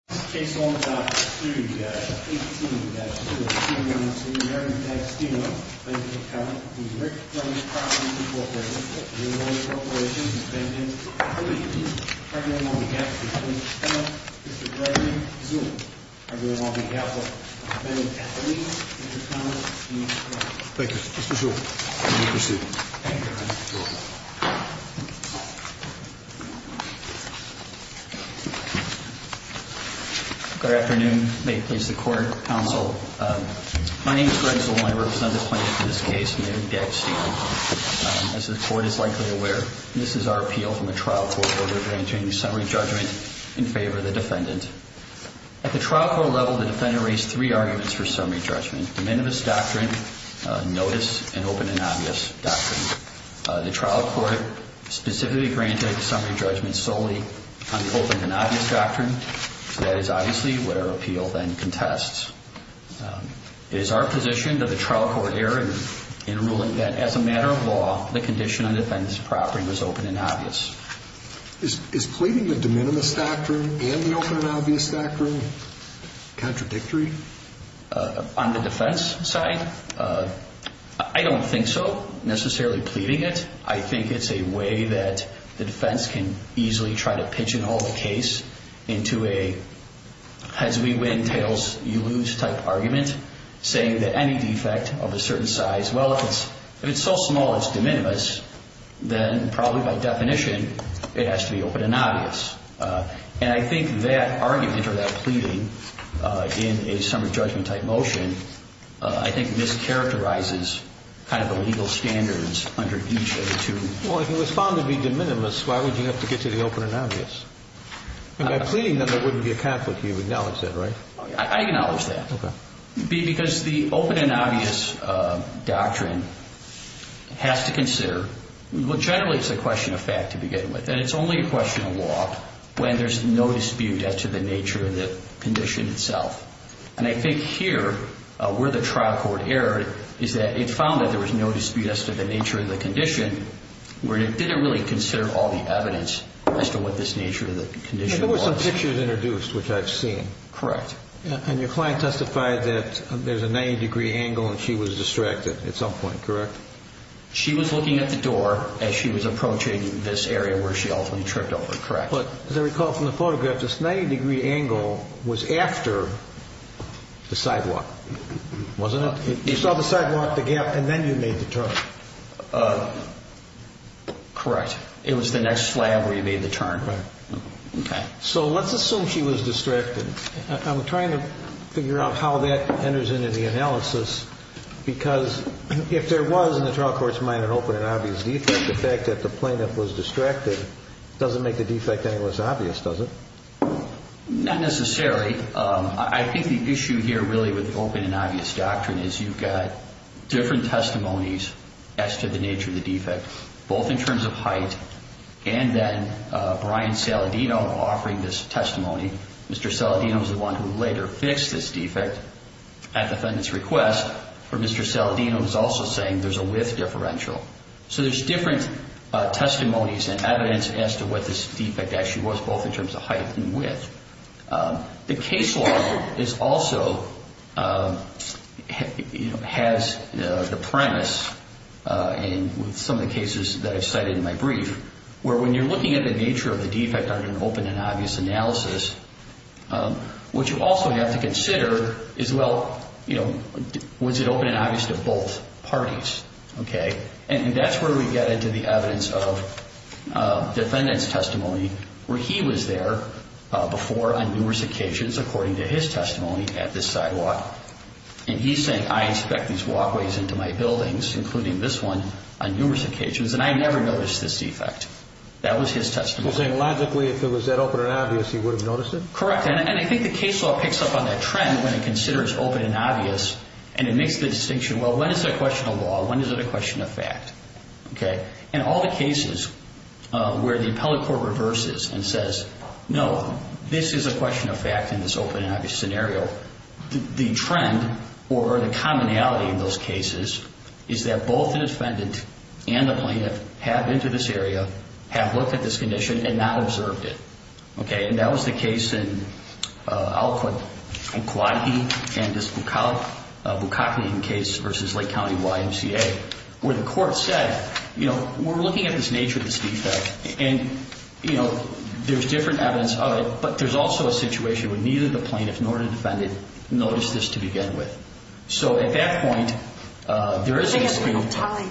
Rick John Properties Corp. Rick John Properties Inc. On behalf of the company, Mr. President, trustees, and all representing companies, in the name of Rick John Properties Co. Rick John Properties Corp. Thank you. Good afternoon. May it please the Court, Counsel. My name is Greg Zoloni. I represent the plaintiff in this case, David D'Agostino. As the Court is likely aware, this is our appeal from a trial court where we're granting summary judgment in favor of the defendant. At the trial court level, the defendant raised three arguments for summary judgment. The Minimus Doctrine, Notice, and Open and Obvious Doctrine. The trial court specifically granted the summary judgment solely on the Open and Obvious Doctrine. That is obviously where our appeal then contests. It is our position that the trial court err in ruling that, as a matter of law, the condition on the defendant's property was Open and Obvious. Is pleading the De Minimis Doctrine and the Open and Obvious Doctrine contradictory? On the defense side, I don't think so, necessarily pleading it. I think it's a way that the defense can easily try to pigeonhole the case into a heads we win, tails you lose type argument, saying that any defect of a certain size, well, if it's so small it's De Minimis, then probably by definition, it has to be Open and Obvious. And I think that argument or that pleading in a summary judgment type motion, I think mischaracterizes kind of the legal standards under each of the two. Well, if it was found to be De Minimis, why would you have to get to the Open and Obvious? And by pleading that there wouldn't be a conflict, you acknowledge that, right? I acknowledge that. Because the Open and Obvious Doctrine has to consider, well, generally it's a question of fact to begin with, and it's only a question of law when there's no dispute as to the nature of the condition itself. And I think here, where the trial court erred, is that it found that there was no dispute as to the nature of the condition, where it didn't really consider all the evidence as to what this nature of the condition was. There were some pictures introduced, which I've seen. Correct. And your client testified that there's a 90-degree angle and she was distracted at some point, correct? She was looking at the door as she was approaching this area where she ultimately tripped over, correct? But as I recall from the photograph, this 90-degree angle was after the sidewalk, wasn't it? You saw the sidewalk, the gap, and then you made the turn. Correct. It was the next slab where you made the turn. Right. Okay. So let's assume she was distracted. I'm trying to figure out how that enters into the analysis because if there was in the trial court's mind an open and obvious defect, the fact that the plaintiff was distracted doesn't make the defect any less obvious, does it? Not necessarily. I think the issue here really with open and obvious doctrine is you've got different testimonies as to the nature of the defect, both in terms of height and then Brian Saladino offering this testimony. Mr. Saladino is the one who later fixed this defect at the defendant's request, but Mr. Saladino is also saying there's a width differential. So there's different testimonies and evidence as to what this defect actually was, both in terms of height and width. The case law is also... And with some of the cases that I've cited in my brief, where when you're looking at the nature of the defect under an open and obvious analysis, what you also have to consider is, well, you know, was it open and obvious to both parties? Okay. And that's where we get into the evidence of defendant's testimony, where he was there before on numerous occasions, according to his testimony, at this sidewalk. And he said, I inspect these walkways into my buildings, including this one, on numerous occasions, and I never noticed this defect. That was his testimony. So logically, if it was that open and obvious, he would have noticed it? Correct, and I think the case law picks up on that trend when it considers open and obvious, and it makes the distinction, well, when is it a question of law? When is it a question of fact? Okay. In all the cases where the appellate court reverses and says, no, this is a question of fact in this open and obvious scenario, the trend or the commonality in those cases is that both the defendant and the plaintiff have been to this area, have looked at this condition, and not observed it. Okay, and that was the case in Alcott and Kauai and this Bukakine case versus Lake County YMCA, where the court said, you know, we're looking at this nature of this defect, and, you know, there's different evidence of it, but there's also a situation where neither the plaintiff nor the defendant noticed this to begin with. So at that point, there is a screen of time.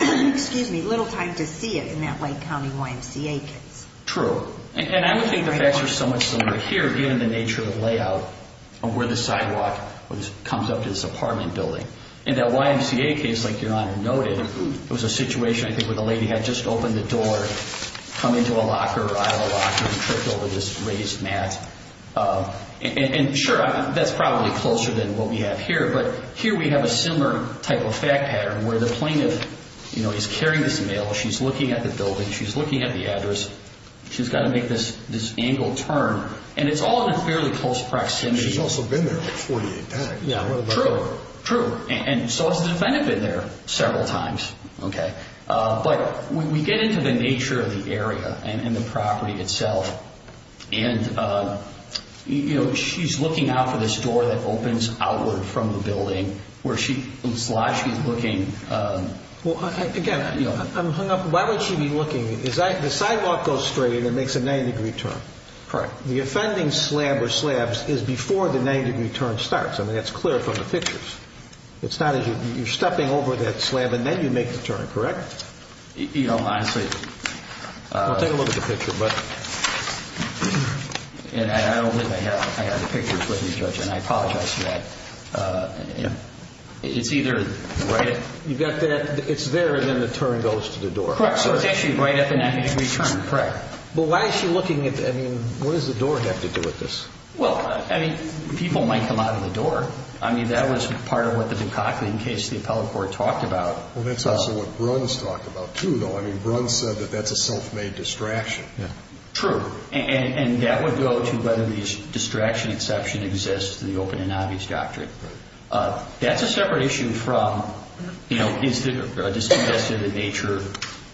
Excuse me, little time to see it in that Lake County YMCA case. True, and I don't think the facts are so much similar here, given the nature of the layout of where the sidewalk comes up to this apartment building. In that YMCA case, like Your Honor noted, it was a situation, I think, where the lady had just opened the door, come into a locker, aisle of locker, and tripped over this raised mat. And sure, that's probably closer than what we have here, but here we have a similar type of fact pattern where the plaintiff, you know, is carrying this mail, she's looking at the building, she's looking at the address, she's got to make this angle turn, and it's all in a fairly close proximity. She's also been there like 48 times. Yeah, true, true. And so has the defendant been there several times, okay? But when we get into the nature of the area and the property itself, and, you know, she's looking out for this door that opens outward from the building, where she slides, she's looking... Well, again, you know, I'm hung up. Why would she be looking? The sidewalk goes straight and it makes a 90-degree turn. Correct. The offending slab or slabs is before the 90-degree turn starts. I mean, that's clear from the pictures. It's not as if you're stepping over that slab and then you make the turn, correct? You know, honestly... We'll take a look at the picture, but... And I don't think I have the pictures with me, Judge, and I apologize for that. It's either right... You've got that... It's there and then the turn goes to the door. Correct, so it's actually right at the 90-degree turn. Correct. But why is she looking at... I mean, what does the door have to do with this? Well, I mean, people might come out of the door. I mean, that was part of what the Dukakis case, the appellate court talked about. Well, that's also what Bruns talked about, too, though. I mean, Bruns said that that's a self-made distraction. Yeah, true. And that would go to whether the distraction exception exists in the open and obvious doctrine. Right. That's a separate issue from, you know, is there a disconnect to the nature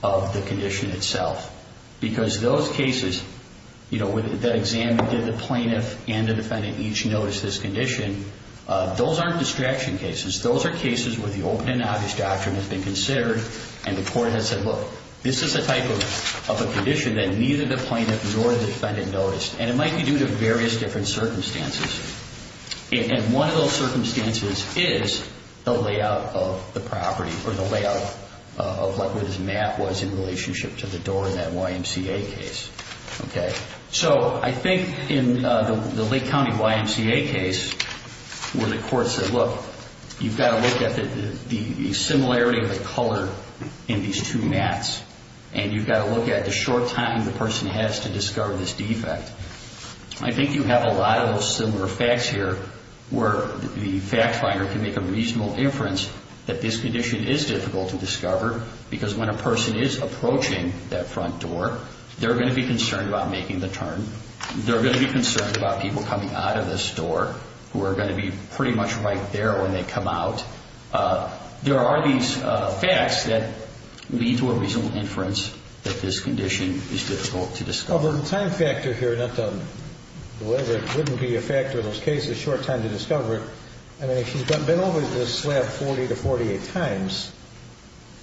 of the condition itself? Because those cases, you know, that examined the plaintiff and the defendant each noticed this condition, those aren't distraction cases. Those are cases where the open and obvious doctrine has been considered and the court has said, look, this is a type of a condition that neither the plaintiff nor the defendant noticed. And it might be due to various different circumstances. And one of those circumstances is the layout of the property or the layout of what his mat was in relationship to the door in that YMCA case. OK, so I think in the Lake County YMCA case, where the court said, look, you've got to look at the similarity of the color in these two mats and you've got to look at the short time the person has to discover this defect. I think you have a lot of similar facts here where the fact finder can make a reasonable inference that this condition is difficult to discover because when a person is approaching that front door, they're going to be concerned about making the turn. They're going to be concerned about people coming out of this door who are going to be pretty much right there when they come out. There are these facts that lead to a reasonable inference that this condition is difficult to discover. Well, the time factor here, not to deliberate, wouldn't be a factor in those cases, short time to discover it. I mean, if she's been over this slab 40 to 48 times,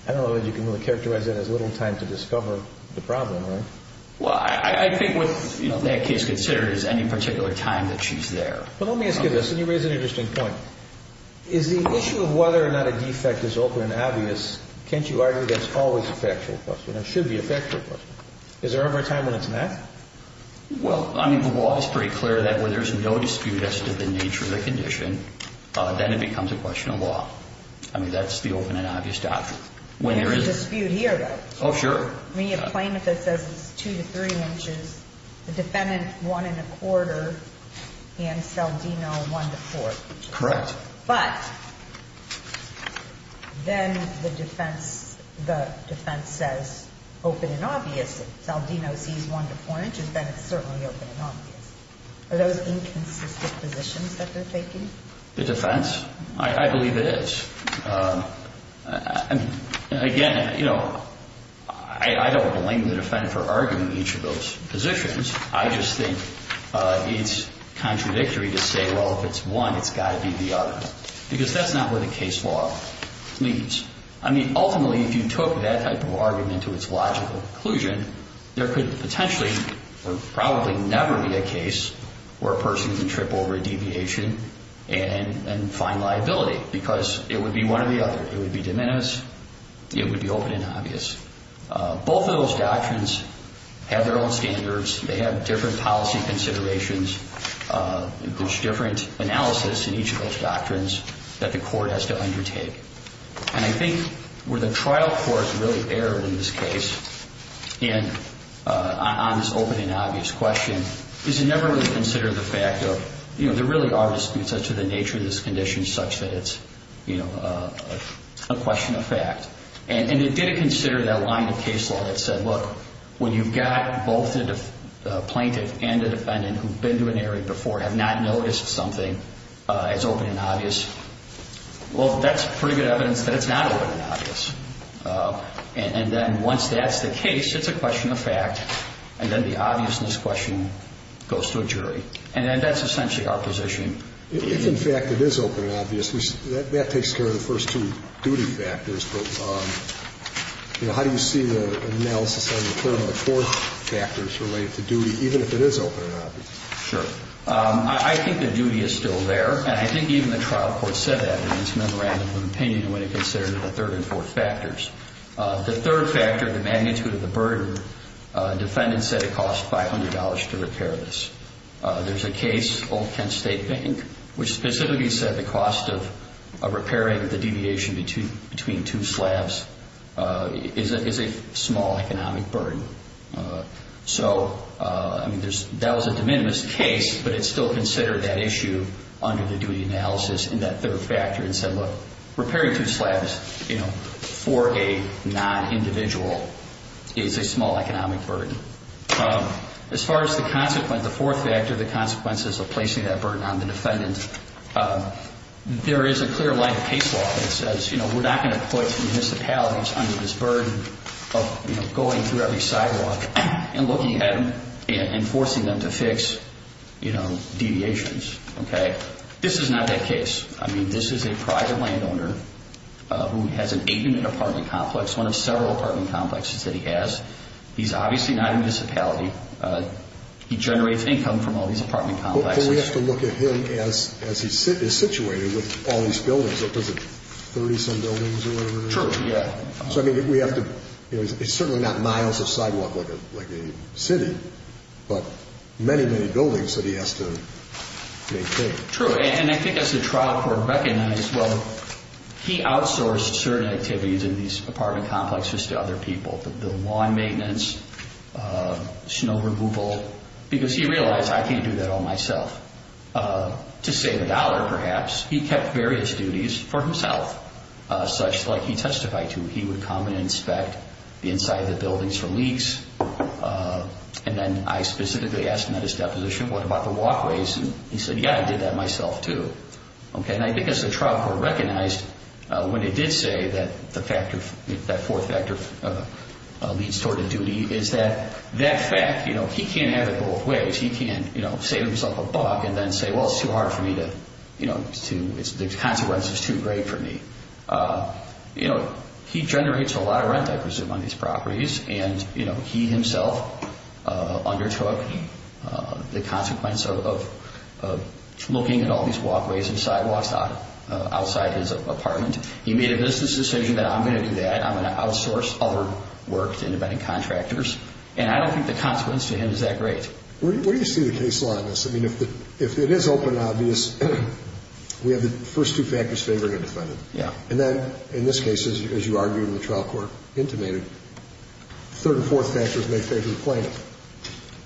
I don't know that you can really characterize it as little time to discover the problem, right? Well, I think what that case considers any particular time that she's there. But let me ask you this, and you raise an interesting point. Is the issue of whether or not a defect is open and obvious, can't you argue that's always a factual question? It should be a factual question. Is there ever a time when it's not? Well, I mean, the law is pretty clear that where there's no dispute as to the nature of the condition, then it becomes a question of law. I mean, that's the open and obvious doctrine. There is a dispute here, though. Oh, sure. I mean, you have a claimant that says it's 2 to 3 inches, the defendant, 1 1⁄4, and Saldino, 1⁄4. Correct. But then the defense says open and obvious. If Saldino sees 1 to 4 inches, then it's certainly open and obvious. Are those inconsistent positions that they're taking? The defense? I believe it is. I mean, again, you know, I don't blame the defense for arguing each of those positions. I just think it's contradictory to say, well, if it's one, it's got to be the other. Because that's not what a case law means. I mean, ultimately, if you took that type of argument to its logical conclusion, there could potentially or probably never be a case where a person can trip over a deviation and find liability because it would be one or the other. It would be de minimis. It would be open and obvious. Both of those doctrines have their own standards. They have different policy considerations. There's different analysis in each of those doctrines that the court has to undertake. And I think where the trial court really erred in this case and on this open and obvious question is it never really considered the fact of, you know, there really are disputes as to the nature of this condition such that it's, you know, a question of fact. And it did consider that line of case law that said, look, when you've got both a plaintiff and a defendant who've been to an area before have not noticed something as open and obvious, well, that's pretty good evidence that it's not open and obvious. And then once that's the case, it's a question of fact, and then the obviousness question goes to a jury. And then that's essentially our position. If, in fact, it is open and obvious, that takes care of the first two duty factors, on the current court factors related to duty even if it is open and obvious. Sure. I think the duty is still there, and I think even the trial court said that in its memorandum of opinion when it considered the third and fourth factors. The third factor, the magnitude of the burden, defendants said it cost $500 to repair this. There's a case, Old Kent State Bank, which specifically said the cost of repairing the deviation between two slabs is a small economic burden. So, I mean, that was a de minimis case, but it still considered that issue under the duty analysis in that third factor and said, look, repairing two slabs, you know, for a non-individual is a small economic burden. As far as the consequence, the fourth factor, the consequences of placing that burden on the defendant, there is a clear line of case law that says, you know, we're not going to put municipalities under this burden of, you know, going through every sidewalk and looking at them and forcing them to fix, you know, deviations, okay? This is not that case. I mean, this is a private landowner who has an eight-unit apartment complex, one of several apartment complexes that he has. He's obviously not in a municipality. He generates income from all these apartment complexes. But we have to look at him as he is situated with all these buildings. What does it, 30-some buildings or whatever? True, yeah. So, I mean, we have to, you know, it's certainly not miles of sidewalk like a city, but many, many buildings that he has to maintain. True, and I think as the trial court recognized, well, he outsourced certain activities in these apartment complexes to other people, the lawn maintenance, snow removal, because he realized, I can't do that all myself. To save a dollar, perhaps, he kept various duties for himself, such like he testified to. He would come and inspect the inside of the buildings for leaks, and then I specifically asked him at his deposition, what about the walkways? And he said, yeah, I did that myself, too. Okay, and I think as the trial court recognized when it did say that the factor, that fourth factor leads toward a duty, is that that fact, you know, he can't have it both ways. He can't, you know, save himself a buck and then say, well, it's too hard for me to, you know, the consequence is too great for me. You know, he generates a lot of rent, I presume, on these properties, and, you know, he himself undertook the consequence of looking at all these walkways and sidewalks outside his apartment. He made a business decision that I'm going to do that. I'm going to outsource other work to independent contractors, and I don't think the consequence to him is that great. Where do you see the case law in this? I mean, if it is open and obvious, we have the first two factors favoring a defendant. Yeah. And then, in this case, as you argued in the trial court intimated, third and fourth factors may favor the plaintiff.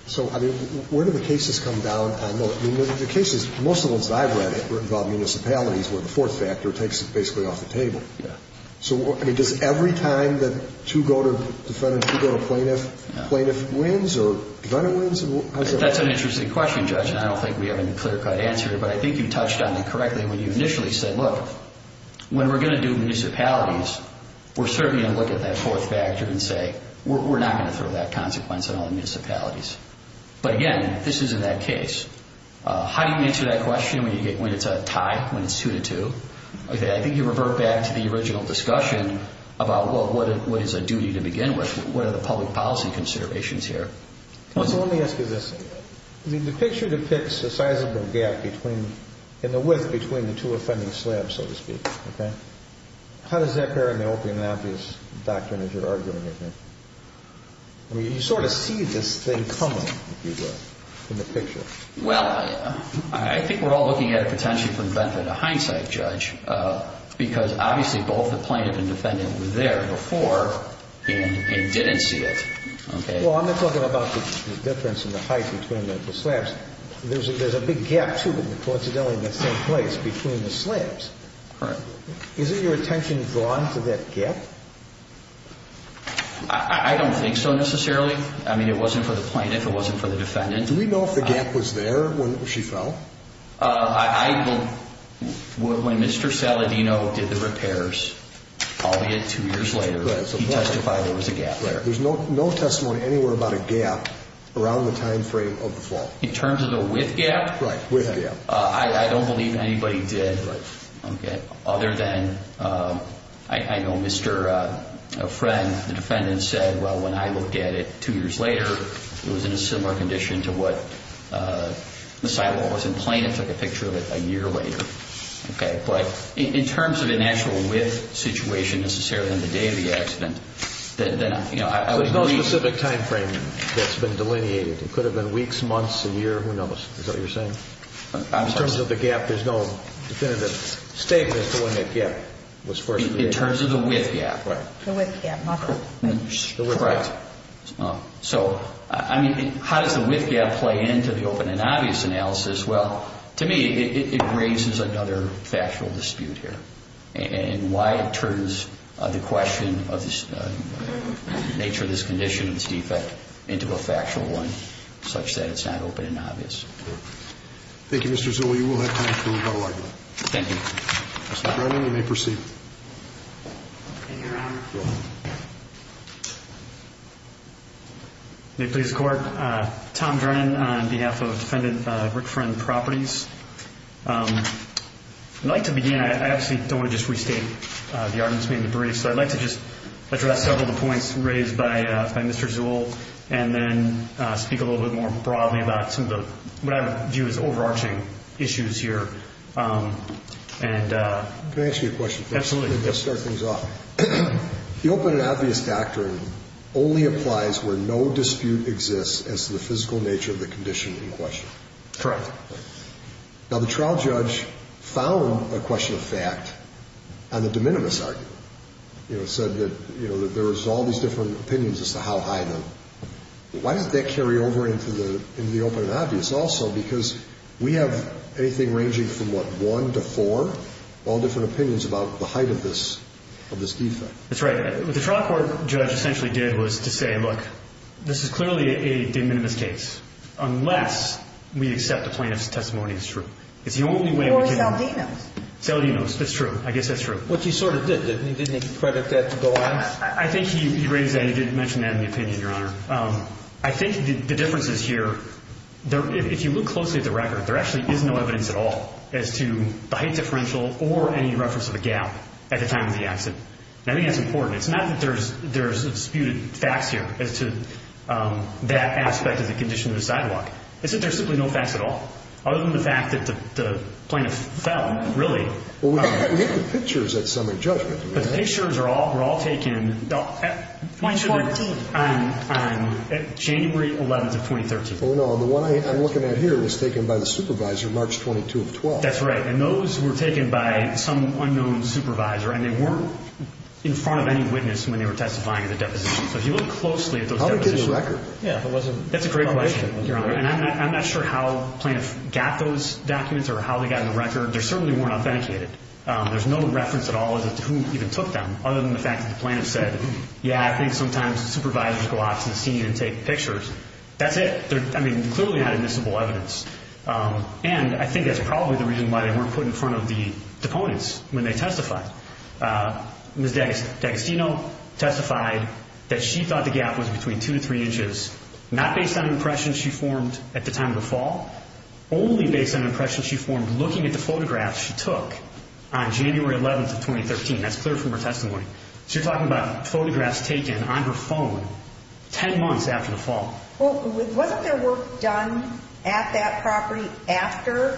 So, I mean, where do the cases come down on those? I mean, the cases, most of the ones that I've read have involved municipalities where the fourth factor takes it basically off the table. Yeah. So, I mean, does every time that two go to defendant, two go to plaintiff, plaintiff wins or defendant wins? That's an interesting question, Judge, and I don't think we have a clear-cut answer, but I think you touched on it correctly when you initially said, look, when we're going to do municipalities, we're certainly going to look at that fourth factor and say we're not going to throw that consequence on all the municipalities. But, again, this is in that case. How do you answer that question when it's a tie, when it's two to two? Okay, I think you revert back to the original discussion about, well, what is a duty to begin with? What are the public policy considerations here? So, let me ask you this. The picture depicts a sizable gap between, in the width between the two offending slabs, so to speak, okay? How does that pair in the open and obvious doctrine that you're arguing, I think? I mean, you sort of see this thing coming, if you will, in the picture. Well, I think we're all looking at it potentially from benefit of hindsight, Judge, because, obviously, both the plaintiff and defendant were there before and didn't see it, okay? Well, I'm not talking about the difference in the height between the slabs. There's a big gap, too, coincidentally, in the same place between the slabs. Right. Is it your attention drawn to that gap? I don't think so, necessarily. I mean, it wasn't for the plaintiff. It wasn't for the defendant. Do we know if the gap was there when she fell? I will... When Mr. Saladino did the repairs, albeit two years later, he testified there was a gap there. There's no testimony anywhere about a gap around the time frame of the fall. In terms of the width gap? Right, width gap. I don't believe anybody did, okay, other than, I know Mr. Friend, the defendant, said, well, when I looked at it two years later, it was in a similar condition to what the silo was in plaintiff, took a picture of it a year later, okay? But in terms of a natural width situation, necessarily, on the day of the accident, then, you know, I would agree... So there's no specific time frame that's been delineated. It could have been weeks, months, a year, who knows? Is that what you're saying? In terms of the gap, there's no definitive statement as to when that gap was first... In terms of the width gap. Right. The width gap, not the... The width gap. Correct. So, I mean, how does the width gap play into the open and obvious analysis? Well, to me, it raises another factual dispute here and why it turns the question of the nature of this condition, of this defect, into a factual one, such that it's not open and obvious. Thank you, Mr. Zola. You will have time for a rebuttal argument. Thank you. Mr. Brennan, you may proceed. Thank you, Your Honor. You're welcome. May it please the Court, Tom Brennan on behalf of defendant Rick Friend Properties. I'd like to begin... I actually don't want to just restate the arguments made in the brief, so I'd like to just address several of the points raised by Mr. Zola and then speak a little bit more broadly about some of the... what I view as overarching issues here and... Can I ask you a question first? Absolutely. Let's start things off. The open and obvious doctrine only applies where no dispute exists as to the physical nature of the condition in question. Correct. Now, the trial judge found a question of fact on the de minimis argument. You know, it said that there was all these different opinions as to how high the... Why didn't that carry over into the open and obvious also? Because we have anything ranging from, what, one to four? All different opinions about the height of this defect. That's right. What the trial court judge essentially did was to say, look, this is clearly a de minimis case, unless we accept the plaintiff's testimony as true. It's the only way we can... Or Saldino's. Saldino's, that's true. I guess that's true. Which he sort of did, didn't he? Didn't he credit that to the law? I think he raised that. He did mention that in the opinion, Your Honour. I think the difference is here, if you look closely at the record, there actually is no evidence at all as to the height differential or any reference of a gap at the time of the accident. I think that's important. It's not that there's disputed facts here as to that aspect of the condition of the sidewalk. It's that there's simply no facts at all, other than the fact that the plaintiff fell, really. Well, we have the pictures at summary judgment. But the pictures were all taken on January 11th of 2013. Oh, no. The one I'm looking at here was taken by the supervisor March 22 of 12. That's right. And those were taken by some unknown supervisor, and they weren't in front of any witness when they were testifying at the deposition. So if you look closely at those depositions... How did they get the record? Yeah, if it wasn't... That's a great question, Your Honour. And I'm not sure how the plaintiff got those documents or how they got the record. They certainly weren't authenticated. There's no reference at all as to who even took them, other than the fact that the plaintiff said, yeah, I think sometimes supervisors go out to the scene and take pictures. That's it. I mean, they clearly had admissible evidence. And I think that's probably the reason why they weren't put in front of the deponents when they testified. Ms. D'Agostino testified that she thought the gap was between two to three inches, not based on impressions she formed at the time of the fall, only based on impressions she formed looking at the photographs she took on January 11 of 2013. That's clear from her testimony. So you're talking about photographs taken on her phone 10 months after the fall. Well, wasn't there work done at that property after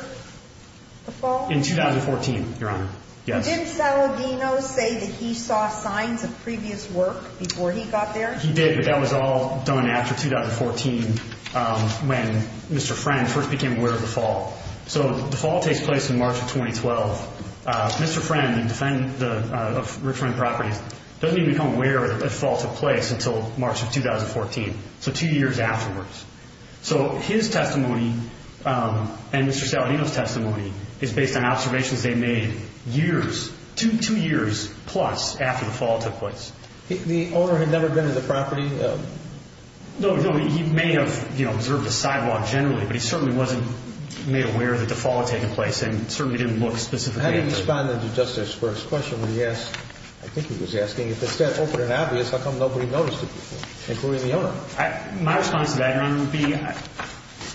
the fall? In 2014, Your Honour. Yes. Didn't Saladino say that he saw signs of previous work before he got there? He did, but that was all done after 2014 when Mr. Friend first became aware of the fall. So the fall takes place in March of 2012. Mr. Friend, the defendant of Richmond Properties, doesn't even become aware that the fall took place until March of 2014, so two years afterwards. So his testimony and Mr. Saladino's testimony is based on observations they made two years plus after the fall took place. The owner had never been to the property? No, he may have observed the sidewalk generally, but he certainly wasn't made aware that the fall had taken place and certainly didn't look specifically at it. How do you respond to Justice Burke's question when he asked, I think he was asking, if it's that open and obvious, how come nobody noticed it before, including the owner? My response to that, Your Honour, would be,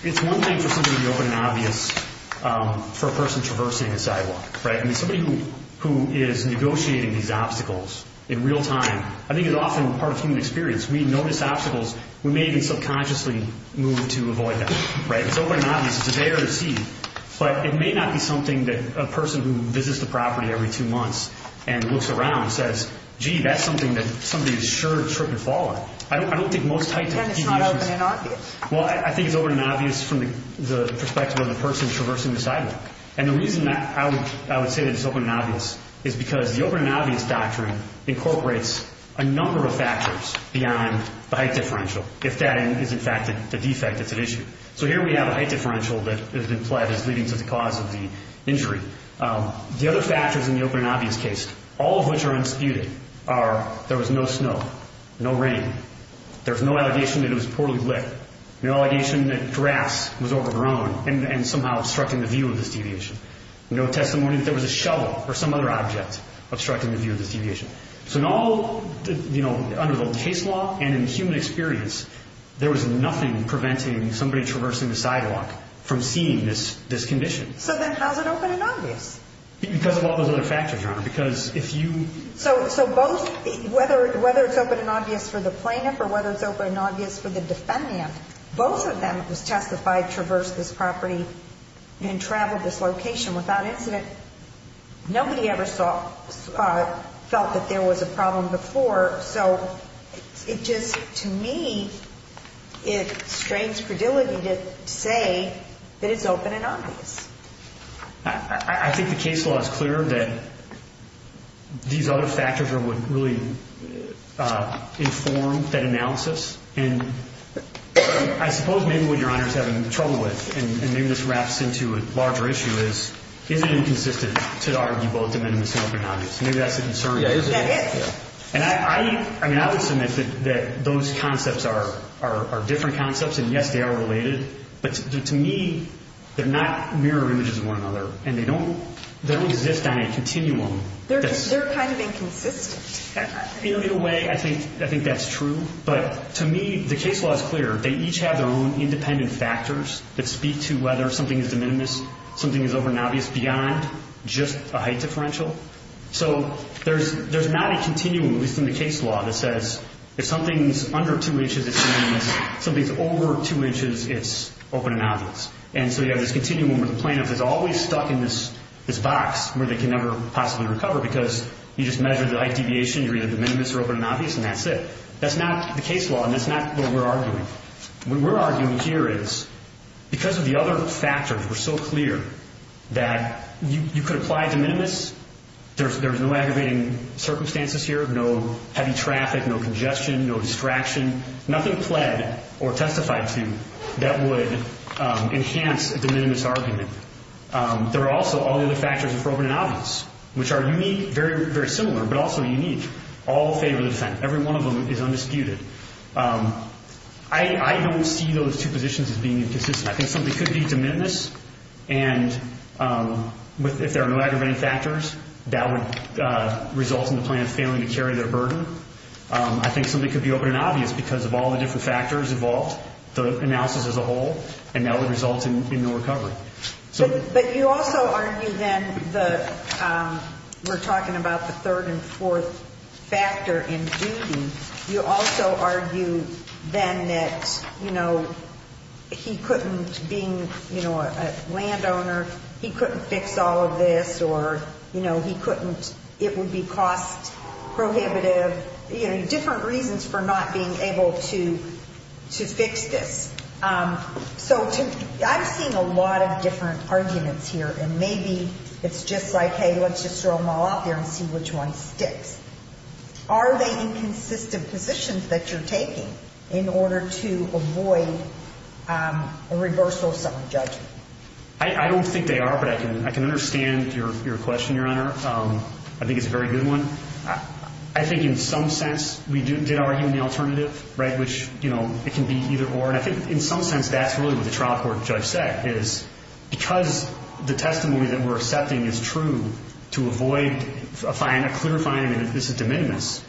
it's one thing for something to be open and obvious for a person traversing a sidewalk, right? I mean, somebody who is negotiating these obstacles in real time, I think it's often part of human experience. We notice obstacles, we may even subconsciously move to avoid them, right? It's open and obvious, it's there to see, but it may not be something that a person who visits the property every two months and looks around and says, gee, that's something that somebody is sure to trip and fall on. I don't think most types of people use this. Then it's not open and obvious? Well, I think it's open and obvious from the perspective of the person traversing the sidewalk. And the reason that I would say that it's open and obvious is because the open and obvious doctrine incorporates a number of factors beyond the height differential, if that is, in fact, the defect that's at issue. So here we have a height differential that is implied as leading to the cause of the injury. The other factors in the open and obvious case, all of which are unsputed, are there was no snow, no rain, there's no allegation that it was poorly lit, no allegation that grass was overgrown and somehow obstructing the view of this deviation, no testimony that there was a shovel or some other object obstructing the view of this deviation. So in all, under the case law and in human experience, there was nothing preventing somebody traversing the sidewalk from seeing this condition. So then how's it open and obvious? Because of all those other factors, Your Honor, because if you... So both, whether it's open and obvious for the plaintiff or whether it's open and obvious for the defendant, both of them, it was testified, traversed this property and traveled this location without incident. Nobody ever felt that there was a problem before. So it just, to me, it strains frivolity to say that it's open and obvious. I think the case law is clear that these other factors are what really inform that analysis. And I suppose maybe what Your Honor's having trouble with, and maybe this wraps into a larger issue, is is it inconsistent to argue both of them in this open and obvious? Maybe that's a concern. Yeah, it is. And I would submit that those concepts are different concepts. And yes, they are related. But to me, they're not mirror images of one another. And they don't exist on a continuum. They're kind of inconsistent. In a way, I think that's true. But to me, the case law is clear. They each have their own independent factors that speak to whether something is de minimis, something is open and obvious beyond just a height differential. So there's not a continuum, at least in the case law, that says if something's under 2 inches, it's de minimis. Something's over 2 inches, it's open and obvious. And so you have this continuum where the plaintiff is always stuck in this box where they can never possibly recover because you just measure the height deviation. You're either de minimis or open and obvious, and that's it. That's not the case law, and that's not what we're arguing. What we're arguing here is because of the other factors were so clear that you could apply de minimis. There's no aggravating circumstances here, no heavy traffic, no congestion, no distraction, nothing pled or testified to that would enhance a de minimis argument. There are also all the other factors of open and obvious, which are unique, very, very similar, but also unique, all favor the defendant. Every one of them is undisputed. I don't see those two positions as being inconsistent. I think something could be de minimis, and if there are no aggravating factors, that would result in the plaintiff failing to carry their burden. I think something could be open and obvious because of all the different factors involved, the analysis as a whole, and that would result in no recovery. But you also argue, then, that we're You also argue, then, that he couldn't, being a landowner, he couldn't fix all of this, or it would be cost prohibitive, different reasons for not being able to fix this. So I'm seeing a lot of different arguments here, and maybe it's just like, hey, let's just throw them all out there and see which one sticks. Are they inconsistent positions that you're taking in order to avoid a reversal of some judgment? I don't think they are, but I can understand your question, Your Honor. I think it's a very good one. I think in some sense, we did argue in the alternative, which it can be either or. And I think in some sense, that's really what the trial court judge said, is because the testimony that we're accepting is true to avoid a clear finding that this is de minimis,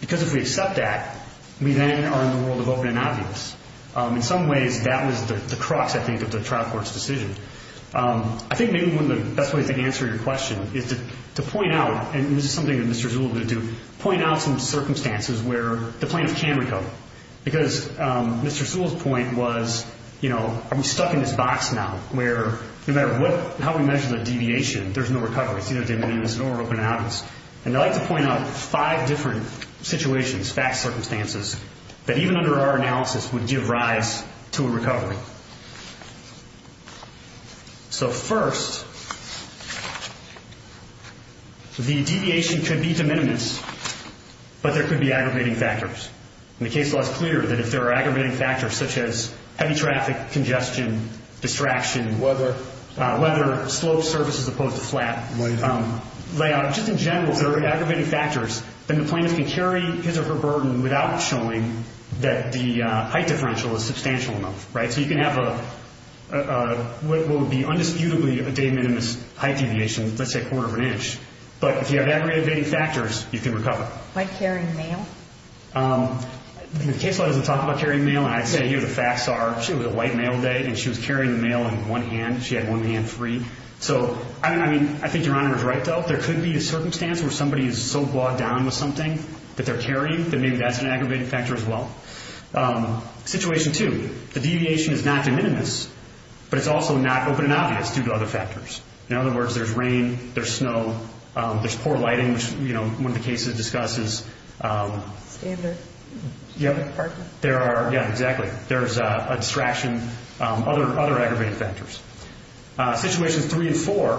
because if we accept that, we then are in the world of open and obvious. In some ways, that was the crux, I think, of the trial court's decision. I think maybe one of the best ways to answer your question is to point out, and this is something that Mr. Sewell did too, point out some circumstances where the plaintiff can recover. Because Mr. Sewell's point was, are we stuck in this box now, where no matter how we measure the deviation, there's no recovery. It's either de minimis or open and obvious. And I'd like to point out five different situations, fact circumstances, that even under our analysis would give rise to a recovery. So first, the deviation could be de minimis, but there could be aggravating factors. And the case law is clear that if there are aggravating factors, such as heavy traffic, congestion, distraction, weather, slope, surface, as opposed to flat, layout, just in general, if there are aggravating factors, then the plaintiff can carry his or her burden without showing that the height differential is substantial enough. So you can have what would be undisputably a de minimis height deviation, let's say a quarter of an inch. But if you have aggravating factors, you can recover. Like carrying mail? The case law doesn't talk about carrying mail. I'd say here the facts are, she had a white mail day, and she was carrying the mail in one hand. She had one hand free. So I mean, I think Your Honor is right, though. There could be a circumstance where somebody is so brought down with something that they're carrying, that maybe that's an aggravating factor as well. Situation two, the deviation is not de minimis, but it's also not open and obvious due to other factors. In other words, there's rain, there's snow, there's poor lighting, which one of the cases discusses. Standard. Yep. There are, yeah, exactly. There's a distraction, other aggravating factors. Situations three and four,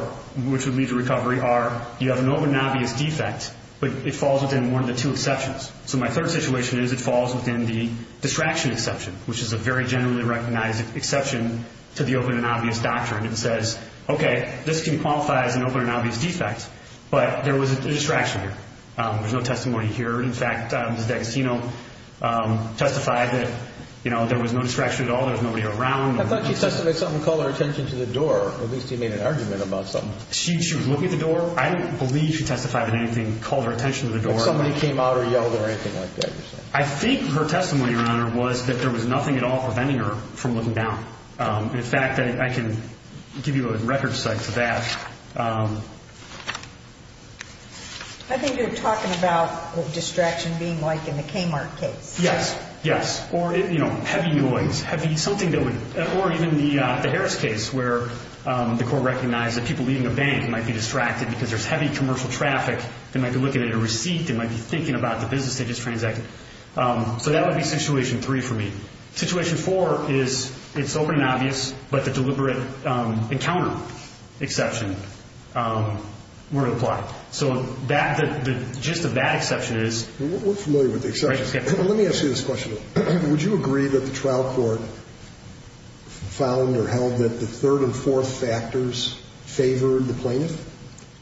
which would lead to recovery, are you have an open and obvious defect, but it falls within one of the two exceptions. So my third situation is it falls within the distraction exception, which is a very generally recognized exception to the open and obvious doctrine. It says, OK, this can qualify as an open and obvious defect, but there was a distraction here. There's no testimony here. In fact, Ms. D'Agostino testified that there was no distraction at all. There was nobody around. I thought she testified something called her attention to the door. At least he made an argument about something. She was looking at the door. I don't believe she testified that anything called her attention to the door. Somebody came out or yelled or anything like that. I think her testimony, Your Honor, was that there was nothing at all preventing her from looking down. In fact, I can give you a record cite to that. I think you're talking about the distraction being like in the Kmart case. Yes, yes, or heavy noise, heavy something that would, or even the Harris case, where the court recognized that people leaving a bank might be distracted because there's heavy commercial traffic. They might be looking at a receipt. They might be thinking about the business they just transacted. So that would be situation three for me. Situation four is it's open and obvious, but the deliberate encounter exception. We're applying so that the gist of that exception is. We're familiar with the exception. Let me ask you this question. Would you agree that the trial court found or held that the third and fourth factors favored the plaintiff?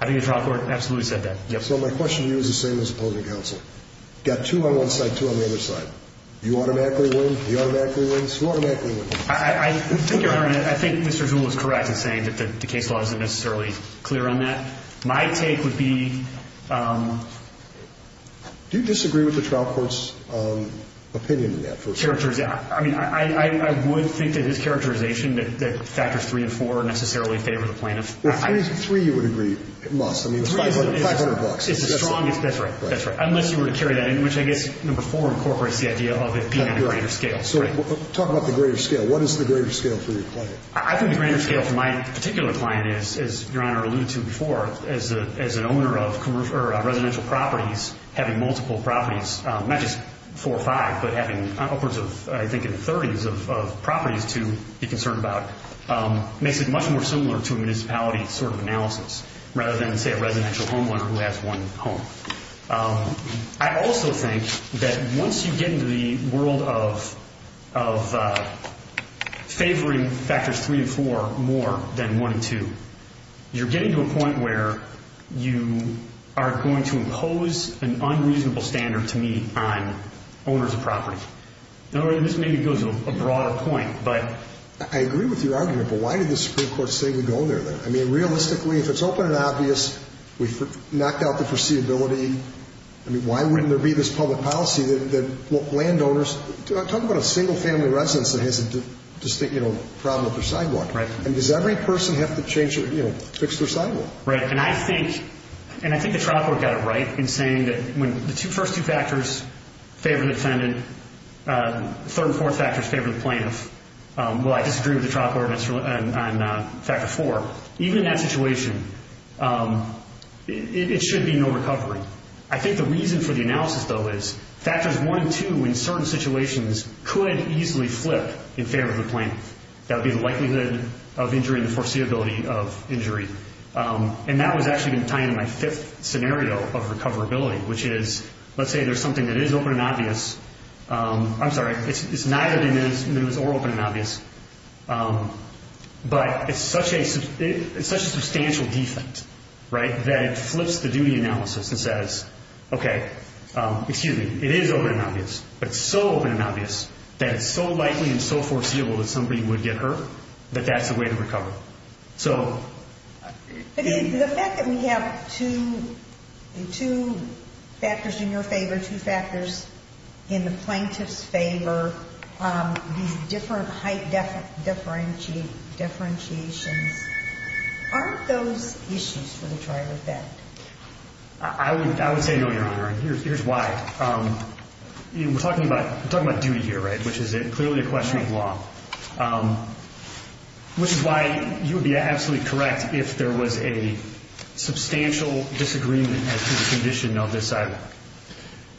I think the trial court absolutely said that. So my question to you is the same as opposing counsel. Got two on one side, two on the other side. You automatically win, he automatically wins, you automatically win. I think you're right. I think Mr. Zuhl is correct in saying that the case law isn't necessarily clear on that. My take would be. Do you disagree with the trial court's opinion in that first? I mean, I would think that his characterization that factors three and four necessarily favor the plaintiff. Three, you would agree it must. I mean, it's 500 bucks. It's the strongest. That's right. That's right. Unless you were to carry that in, which I guess number four incorporates the idea of it being a greater scale. So talk about the greater scale. What is the greater scale for your client? I think the greater scale for my particular client is, as Your Honor alluded to before, as an owner of residential properties, having multiple properties, not just four or five, but having upwards of, I think, in the 30s of properties to be concerned about, makes it much more similar to a municipality sort of analysis rather than, say, a residential homeowner who has one home. I also think that once you get into the world of favoring factors three and four more than one and two, you're getting to a point where you are going to impose an unreasonable standard, to me, on owners of property. In other words, this maybe goes to a broader point, but. I agree with your argument, but why did the Supreme Court say we go there, then? I mean, realistically, if it's open and obvious, we've knocked out the foreseeability. I mean, why wouldn't there be this public policy that landowners, talk about a single family residence that has a distinct problem with their sidewalk? And does every person have to fix their sidewalk? Right, and I think the trial court got it right in saying that when the first two factors favor the defendant, third and fourth factors favor the plaintiff. Well, I disagree with the trial court on factor four. Even in that situation, it should be no recovery. I think the reason for the analysis, though, is factors one and two, in certain situations, could easily flip in favor of the plaintiff. That would be the likelihood of injury and the foreseeability of injury. And that was actually going to tie in my fifth scenario of recoverability, which is, let's say there's something that is open and obvious. I'm sorry, it's neither or open and obvious. But it's such a substantial defect, right, that it flips the duty analysis and says, OK, excuse me, it is open and obvious, but so open and obvious that it's so likely and so foreseeable that somebody would get hurt, that that's the way to recover. So. Again, the fact that we have two factors in your favor, two factors in the plaintiff's favor, these different height differentiations, aren't those issues for the trial effect? I would say no, Your Honor. Here's why. We're talking about duty here, right, which is clearly a question of law, which is why you would be absolutely correct if there was a substantial disagreement as to the condition of the sidewalk.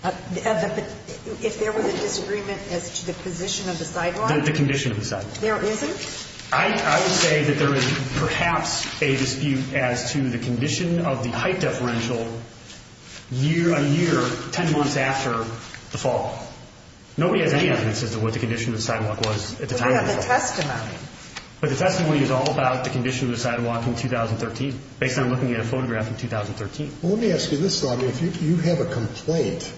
If there was a disagreement as to the position of the sidewalk? The condition of the sidewalk. There isn't? I would say that there is perhaps a dispute as to the condition of the height differential a year, 10 months after the fall. Nobody has any evidence as to what the condition of the sidewalk was at the time of the fall. But we have a testimony. But the testimony is all about the condition of the sidewalk in 2013, based on looking at a photograph in 2013. Well, let me ask you this, Loni. If you have a complaint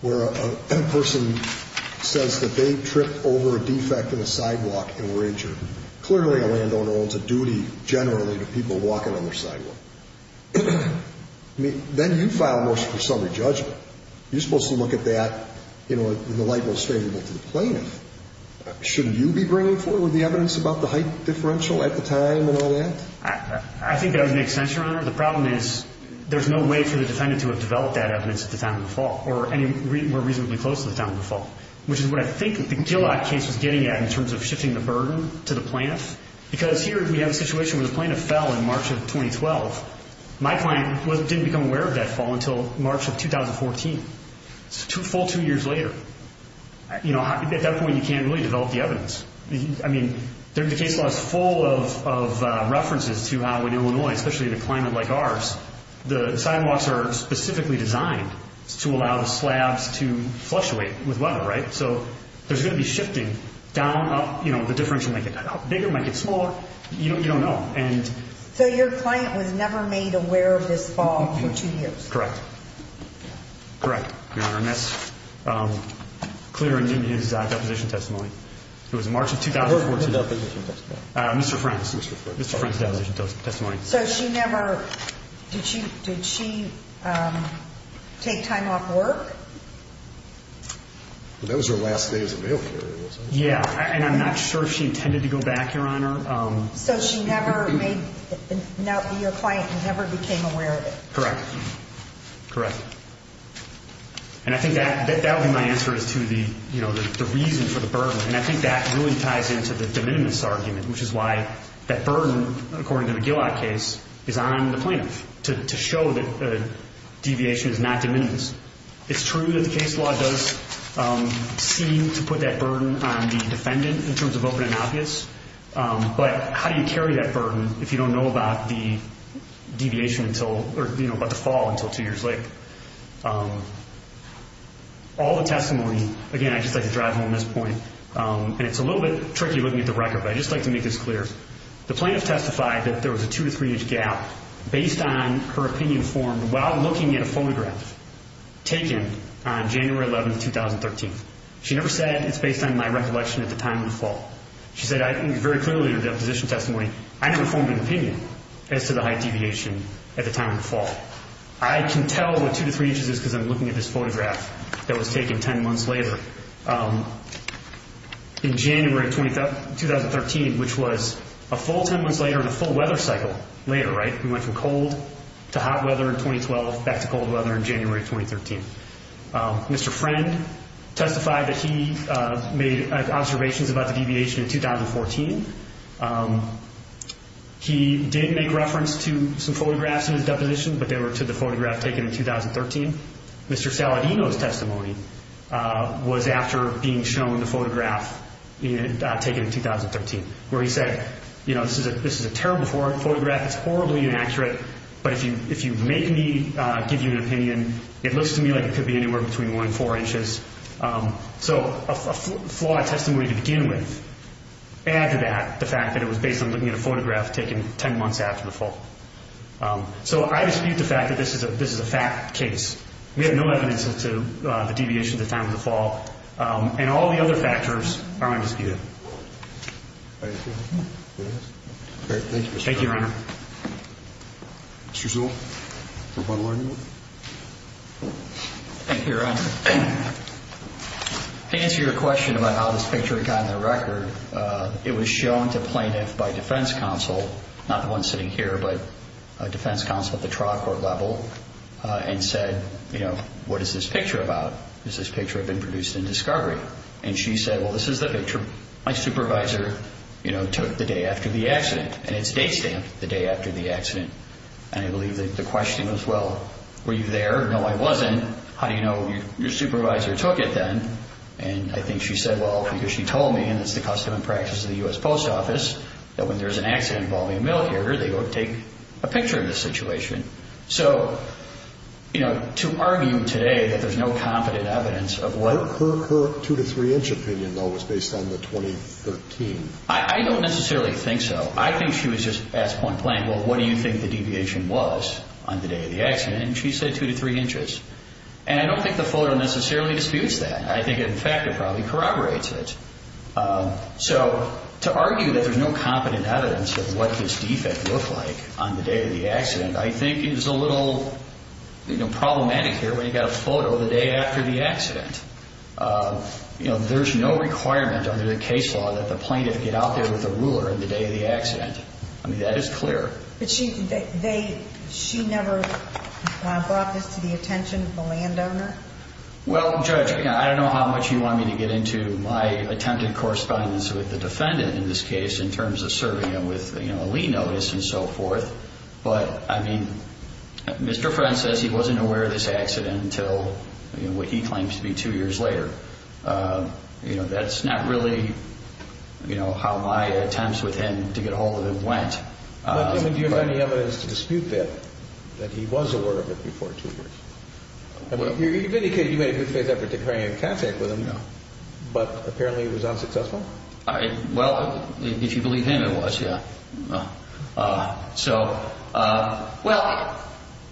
where a person says that they tripped over a defect in a sidewalk and were injured, clearly a landowner owns a duty generally to people walking on their sidewalk. Then you file a motion for summary judgment. You're supposed to look at that in the light most favorable to the plaintiff. Shouldn't you be bringing forward the evidence about the height differential at the time and all that? I think that would make sense, Your Honor. The problem is there's no way for the defendant to have developed that evidence at the time of the fall, or any more reasonably close to the time of the fall, which is what I think the Gillock case was getting at in terms of shifting the burden to the plaintiff. Because here we have a situation where the plaintiff fell in March of 2012. My client didn't become aware of that fall until March of 2014. It's a full two years later. At that point, you can't really develop the evidence. I mean, the case law is full of references to how in Illinois, especially in a climate like ours, the sidewalks are specifically designed to allow the slabs to fluctuate with weather, right? So there's going to be shifting down, up. The difference will make it bigger, make it smaller. You don't know. So your client was never made aware of this fall for two years? Correct. Correct, Your Honor. And that's clear in his deposition testimony. It was March of 2014. What was his deposition testimony? Mr. Friend's. Mr. Friend's deposition testimony. That was her last day as a mail carrier, wasn't it? Yeah, and I'm not sure if she intended to go back, Your Honor. So she never made your client never became aware of it? Correct. Correct. And I think that would be my answer as to the reason for the burden. And I think that really ties into the de minimis argument, which is why that burden, according to the Gillott case, is on the plaintiff to show that the deviation is not de minimis. It's true that the case law does seem to put that burden on the defendant in terms of open and obvious. But how do you carry that burden if you don't know about the fall until two years later? All the testimony, again, I'd just like to drive home this point. And it's a little bit tricky looking at the record, but I'd just like to make this clear. The plaintiff testified that there was a two to three inch gap based on her opinion formed while looking at a photograph taken on January 11, 2013. She never said it's based on my recollection at the time of the fall. She said very clearly in her deposition testimony, I never formed an opinion as to the height deviation at the time of the fall. I can tell what two to three inches is because I'm looking at this photograph that was taken 10 months later. In January 2013, which was a full 10 months later and a full weather cycle later, right? We went from cold to hot weather in 2012, back to cold weather in January 2013. Mr. Friend testified that he made observations about the deviation in 2014. He did make reference to some photographs in his deposition, but they were to the photograph taken in 2013. Mr. Saladino's testimony was after being shown the photograph taken in 2013, where he said, this is a terrible photograph. It's horribly inaccurate. But if you make me give you an opinion, it looks to me like it could be anywhere between one and four inches. So a flawed testimony to begin with. Add to that the fact that it was based on looking at a photograph taken 10 months after the fall. So I dispute the fact that this is a fact case. We have no evidence as to the deviation at the time of the fall. And all the other factors are undisputed. All right, thank you, Mr. Friend. Thank you, Your Honor. Mr. Zuhl, rebuttal argument? Thank you, Your Honor. To answer your question about how this picture got on the record, it was shown to plaintiff by defense counsel, not the one sitting here, but a defense counsel at the trial court level, and said, what is this picture about? Does this picture have been produced in discovery? And she said, well, this is the picture my supervisor took the day after the accident. And it's date stamped. The day after the accident. And I believe that the question was, well, were you there? No, I wasn't. How do you know your supervisor took it then? And I think she said, well, because she told me, and it's the custom and practice of the US Post Office, that when there's an accident involving a male character, they go take a picture of the situation. So to argue today that there's no competent evidence of what Her two to three inch opinion, though, was based on the 2013. I don't necessarily think so. I think she was just, at this point, playing, well, what do you think the deviation was on the day of the accident? And she said two to three inches. And I don't think the photo necessarily disputes that. I think, in fact, it probably corroborates it. So to argue that there's no competent evidence of what this defect looked like on the day of the accident, I think is a little problematic here when you've got a photo the day after the accident. There's no requirement under the case law that the plaintiff get out there with a ruler on the day of the accident. I mean, that is clear. But she never brought this to the attention of the landowner? Well, Judge, I don't know how much you want me to get into my attempted correspondence with the defendant in this case, in terms of serving him with a lien notice and so forth. But I mean, Mr. Friend says he wasn't aware of this accident until what he claims to be two years later. You know, that's not really how my attempts with him to get a hold of him went. But do you have any evidence to dispute that, that he was aware of it before two years? You've indicated you made a good faith effort to carry in contact with him. But apparently, it was unsuccessful? Well, if you believe him, it was, yeah. So well,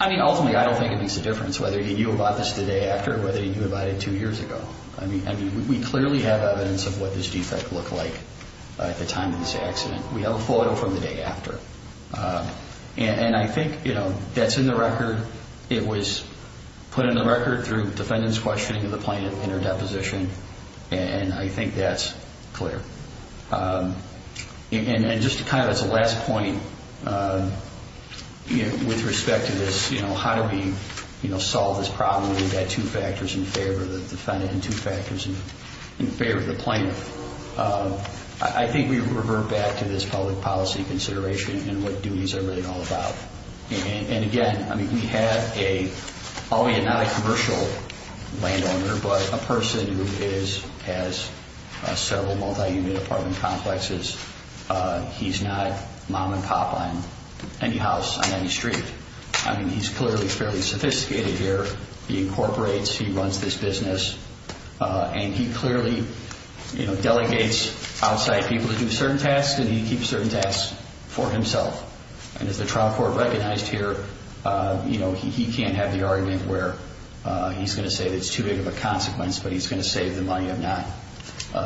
I mean, ultimately, I don't think it makes a difference whether he knew about this the day after or whether he didn't know about it the day after. I mean, we clearly have evidence of what this defect looked like at the time of this accident. We have a photo from the day after. And I think, you know, that's in the record. It was put in the record through defendant's questioning of the plaintiff in her deposition. And I think that's clear. And just kind of as a last point, with respect to this, you know, how do we, you know, solve this problem? We've got two factors in favor of the defendant and two factors in favor of the plaintiff. I think we revert back to this public policy consideration and what duties are really all about. And again, I mean, we have a, not a commercial landowner, but a person who has several multi-unit apartment complexes. He's not mom and pop on any house on any street. I mean, he's clearly fairly sophisticated here. He incorporates, he runs this business, and he clearly, you know, delegates outside people to do certain tasks, and he keeps certain tasks for himself. And as the trial court recognized here, you know, he can't have the argument where he's going to say that it's too big of a consequence, but he's going to save the money of not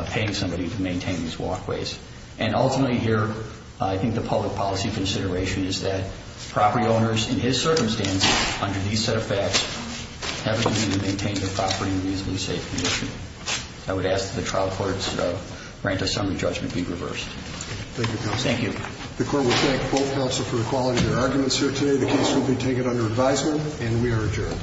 paying somebody to maintain these walkways. And ultimately here, I think the public policy consideration is that property owners, in his circumstances, under these set of facts, have a duty to maintain their property in a reasonably safe condition. I would ask that the trial courts grant a summary judgment be reversed. Thank you, counsel. Thank you. The court will thank both counsel for the quality of their arguments here today. The case will be taken under advisement, and we are adjourned.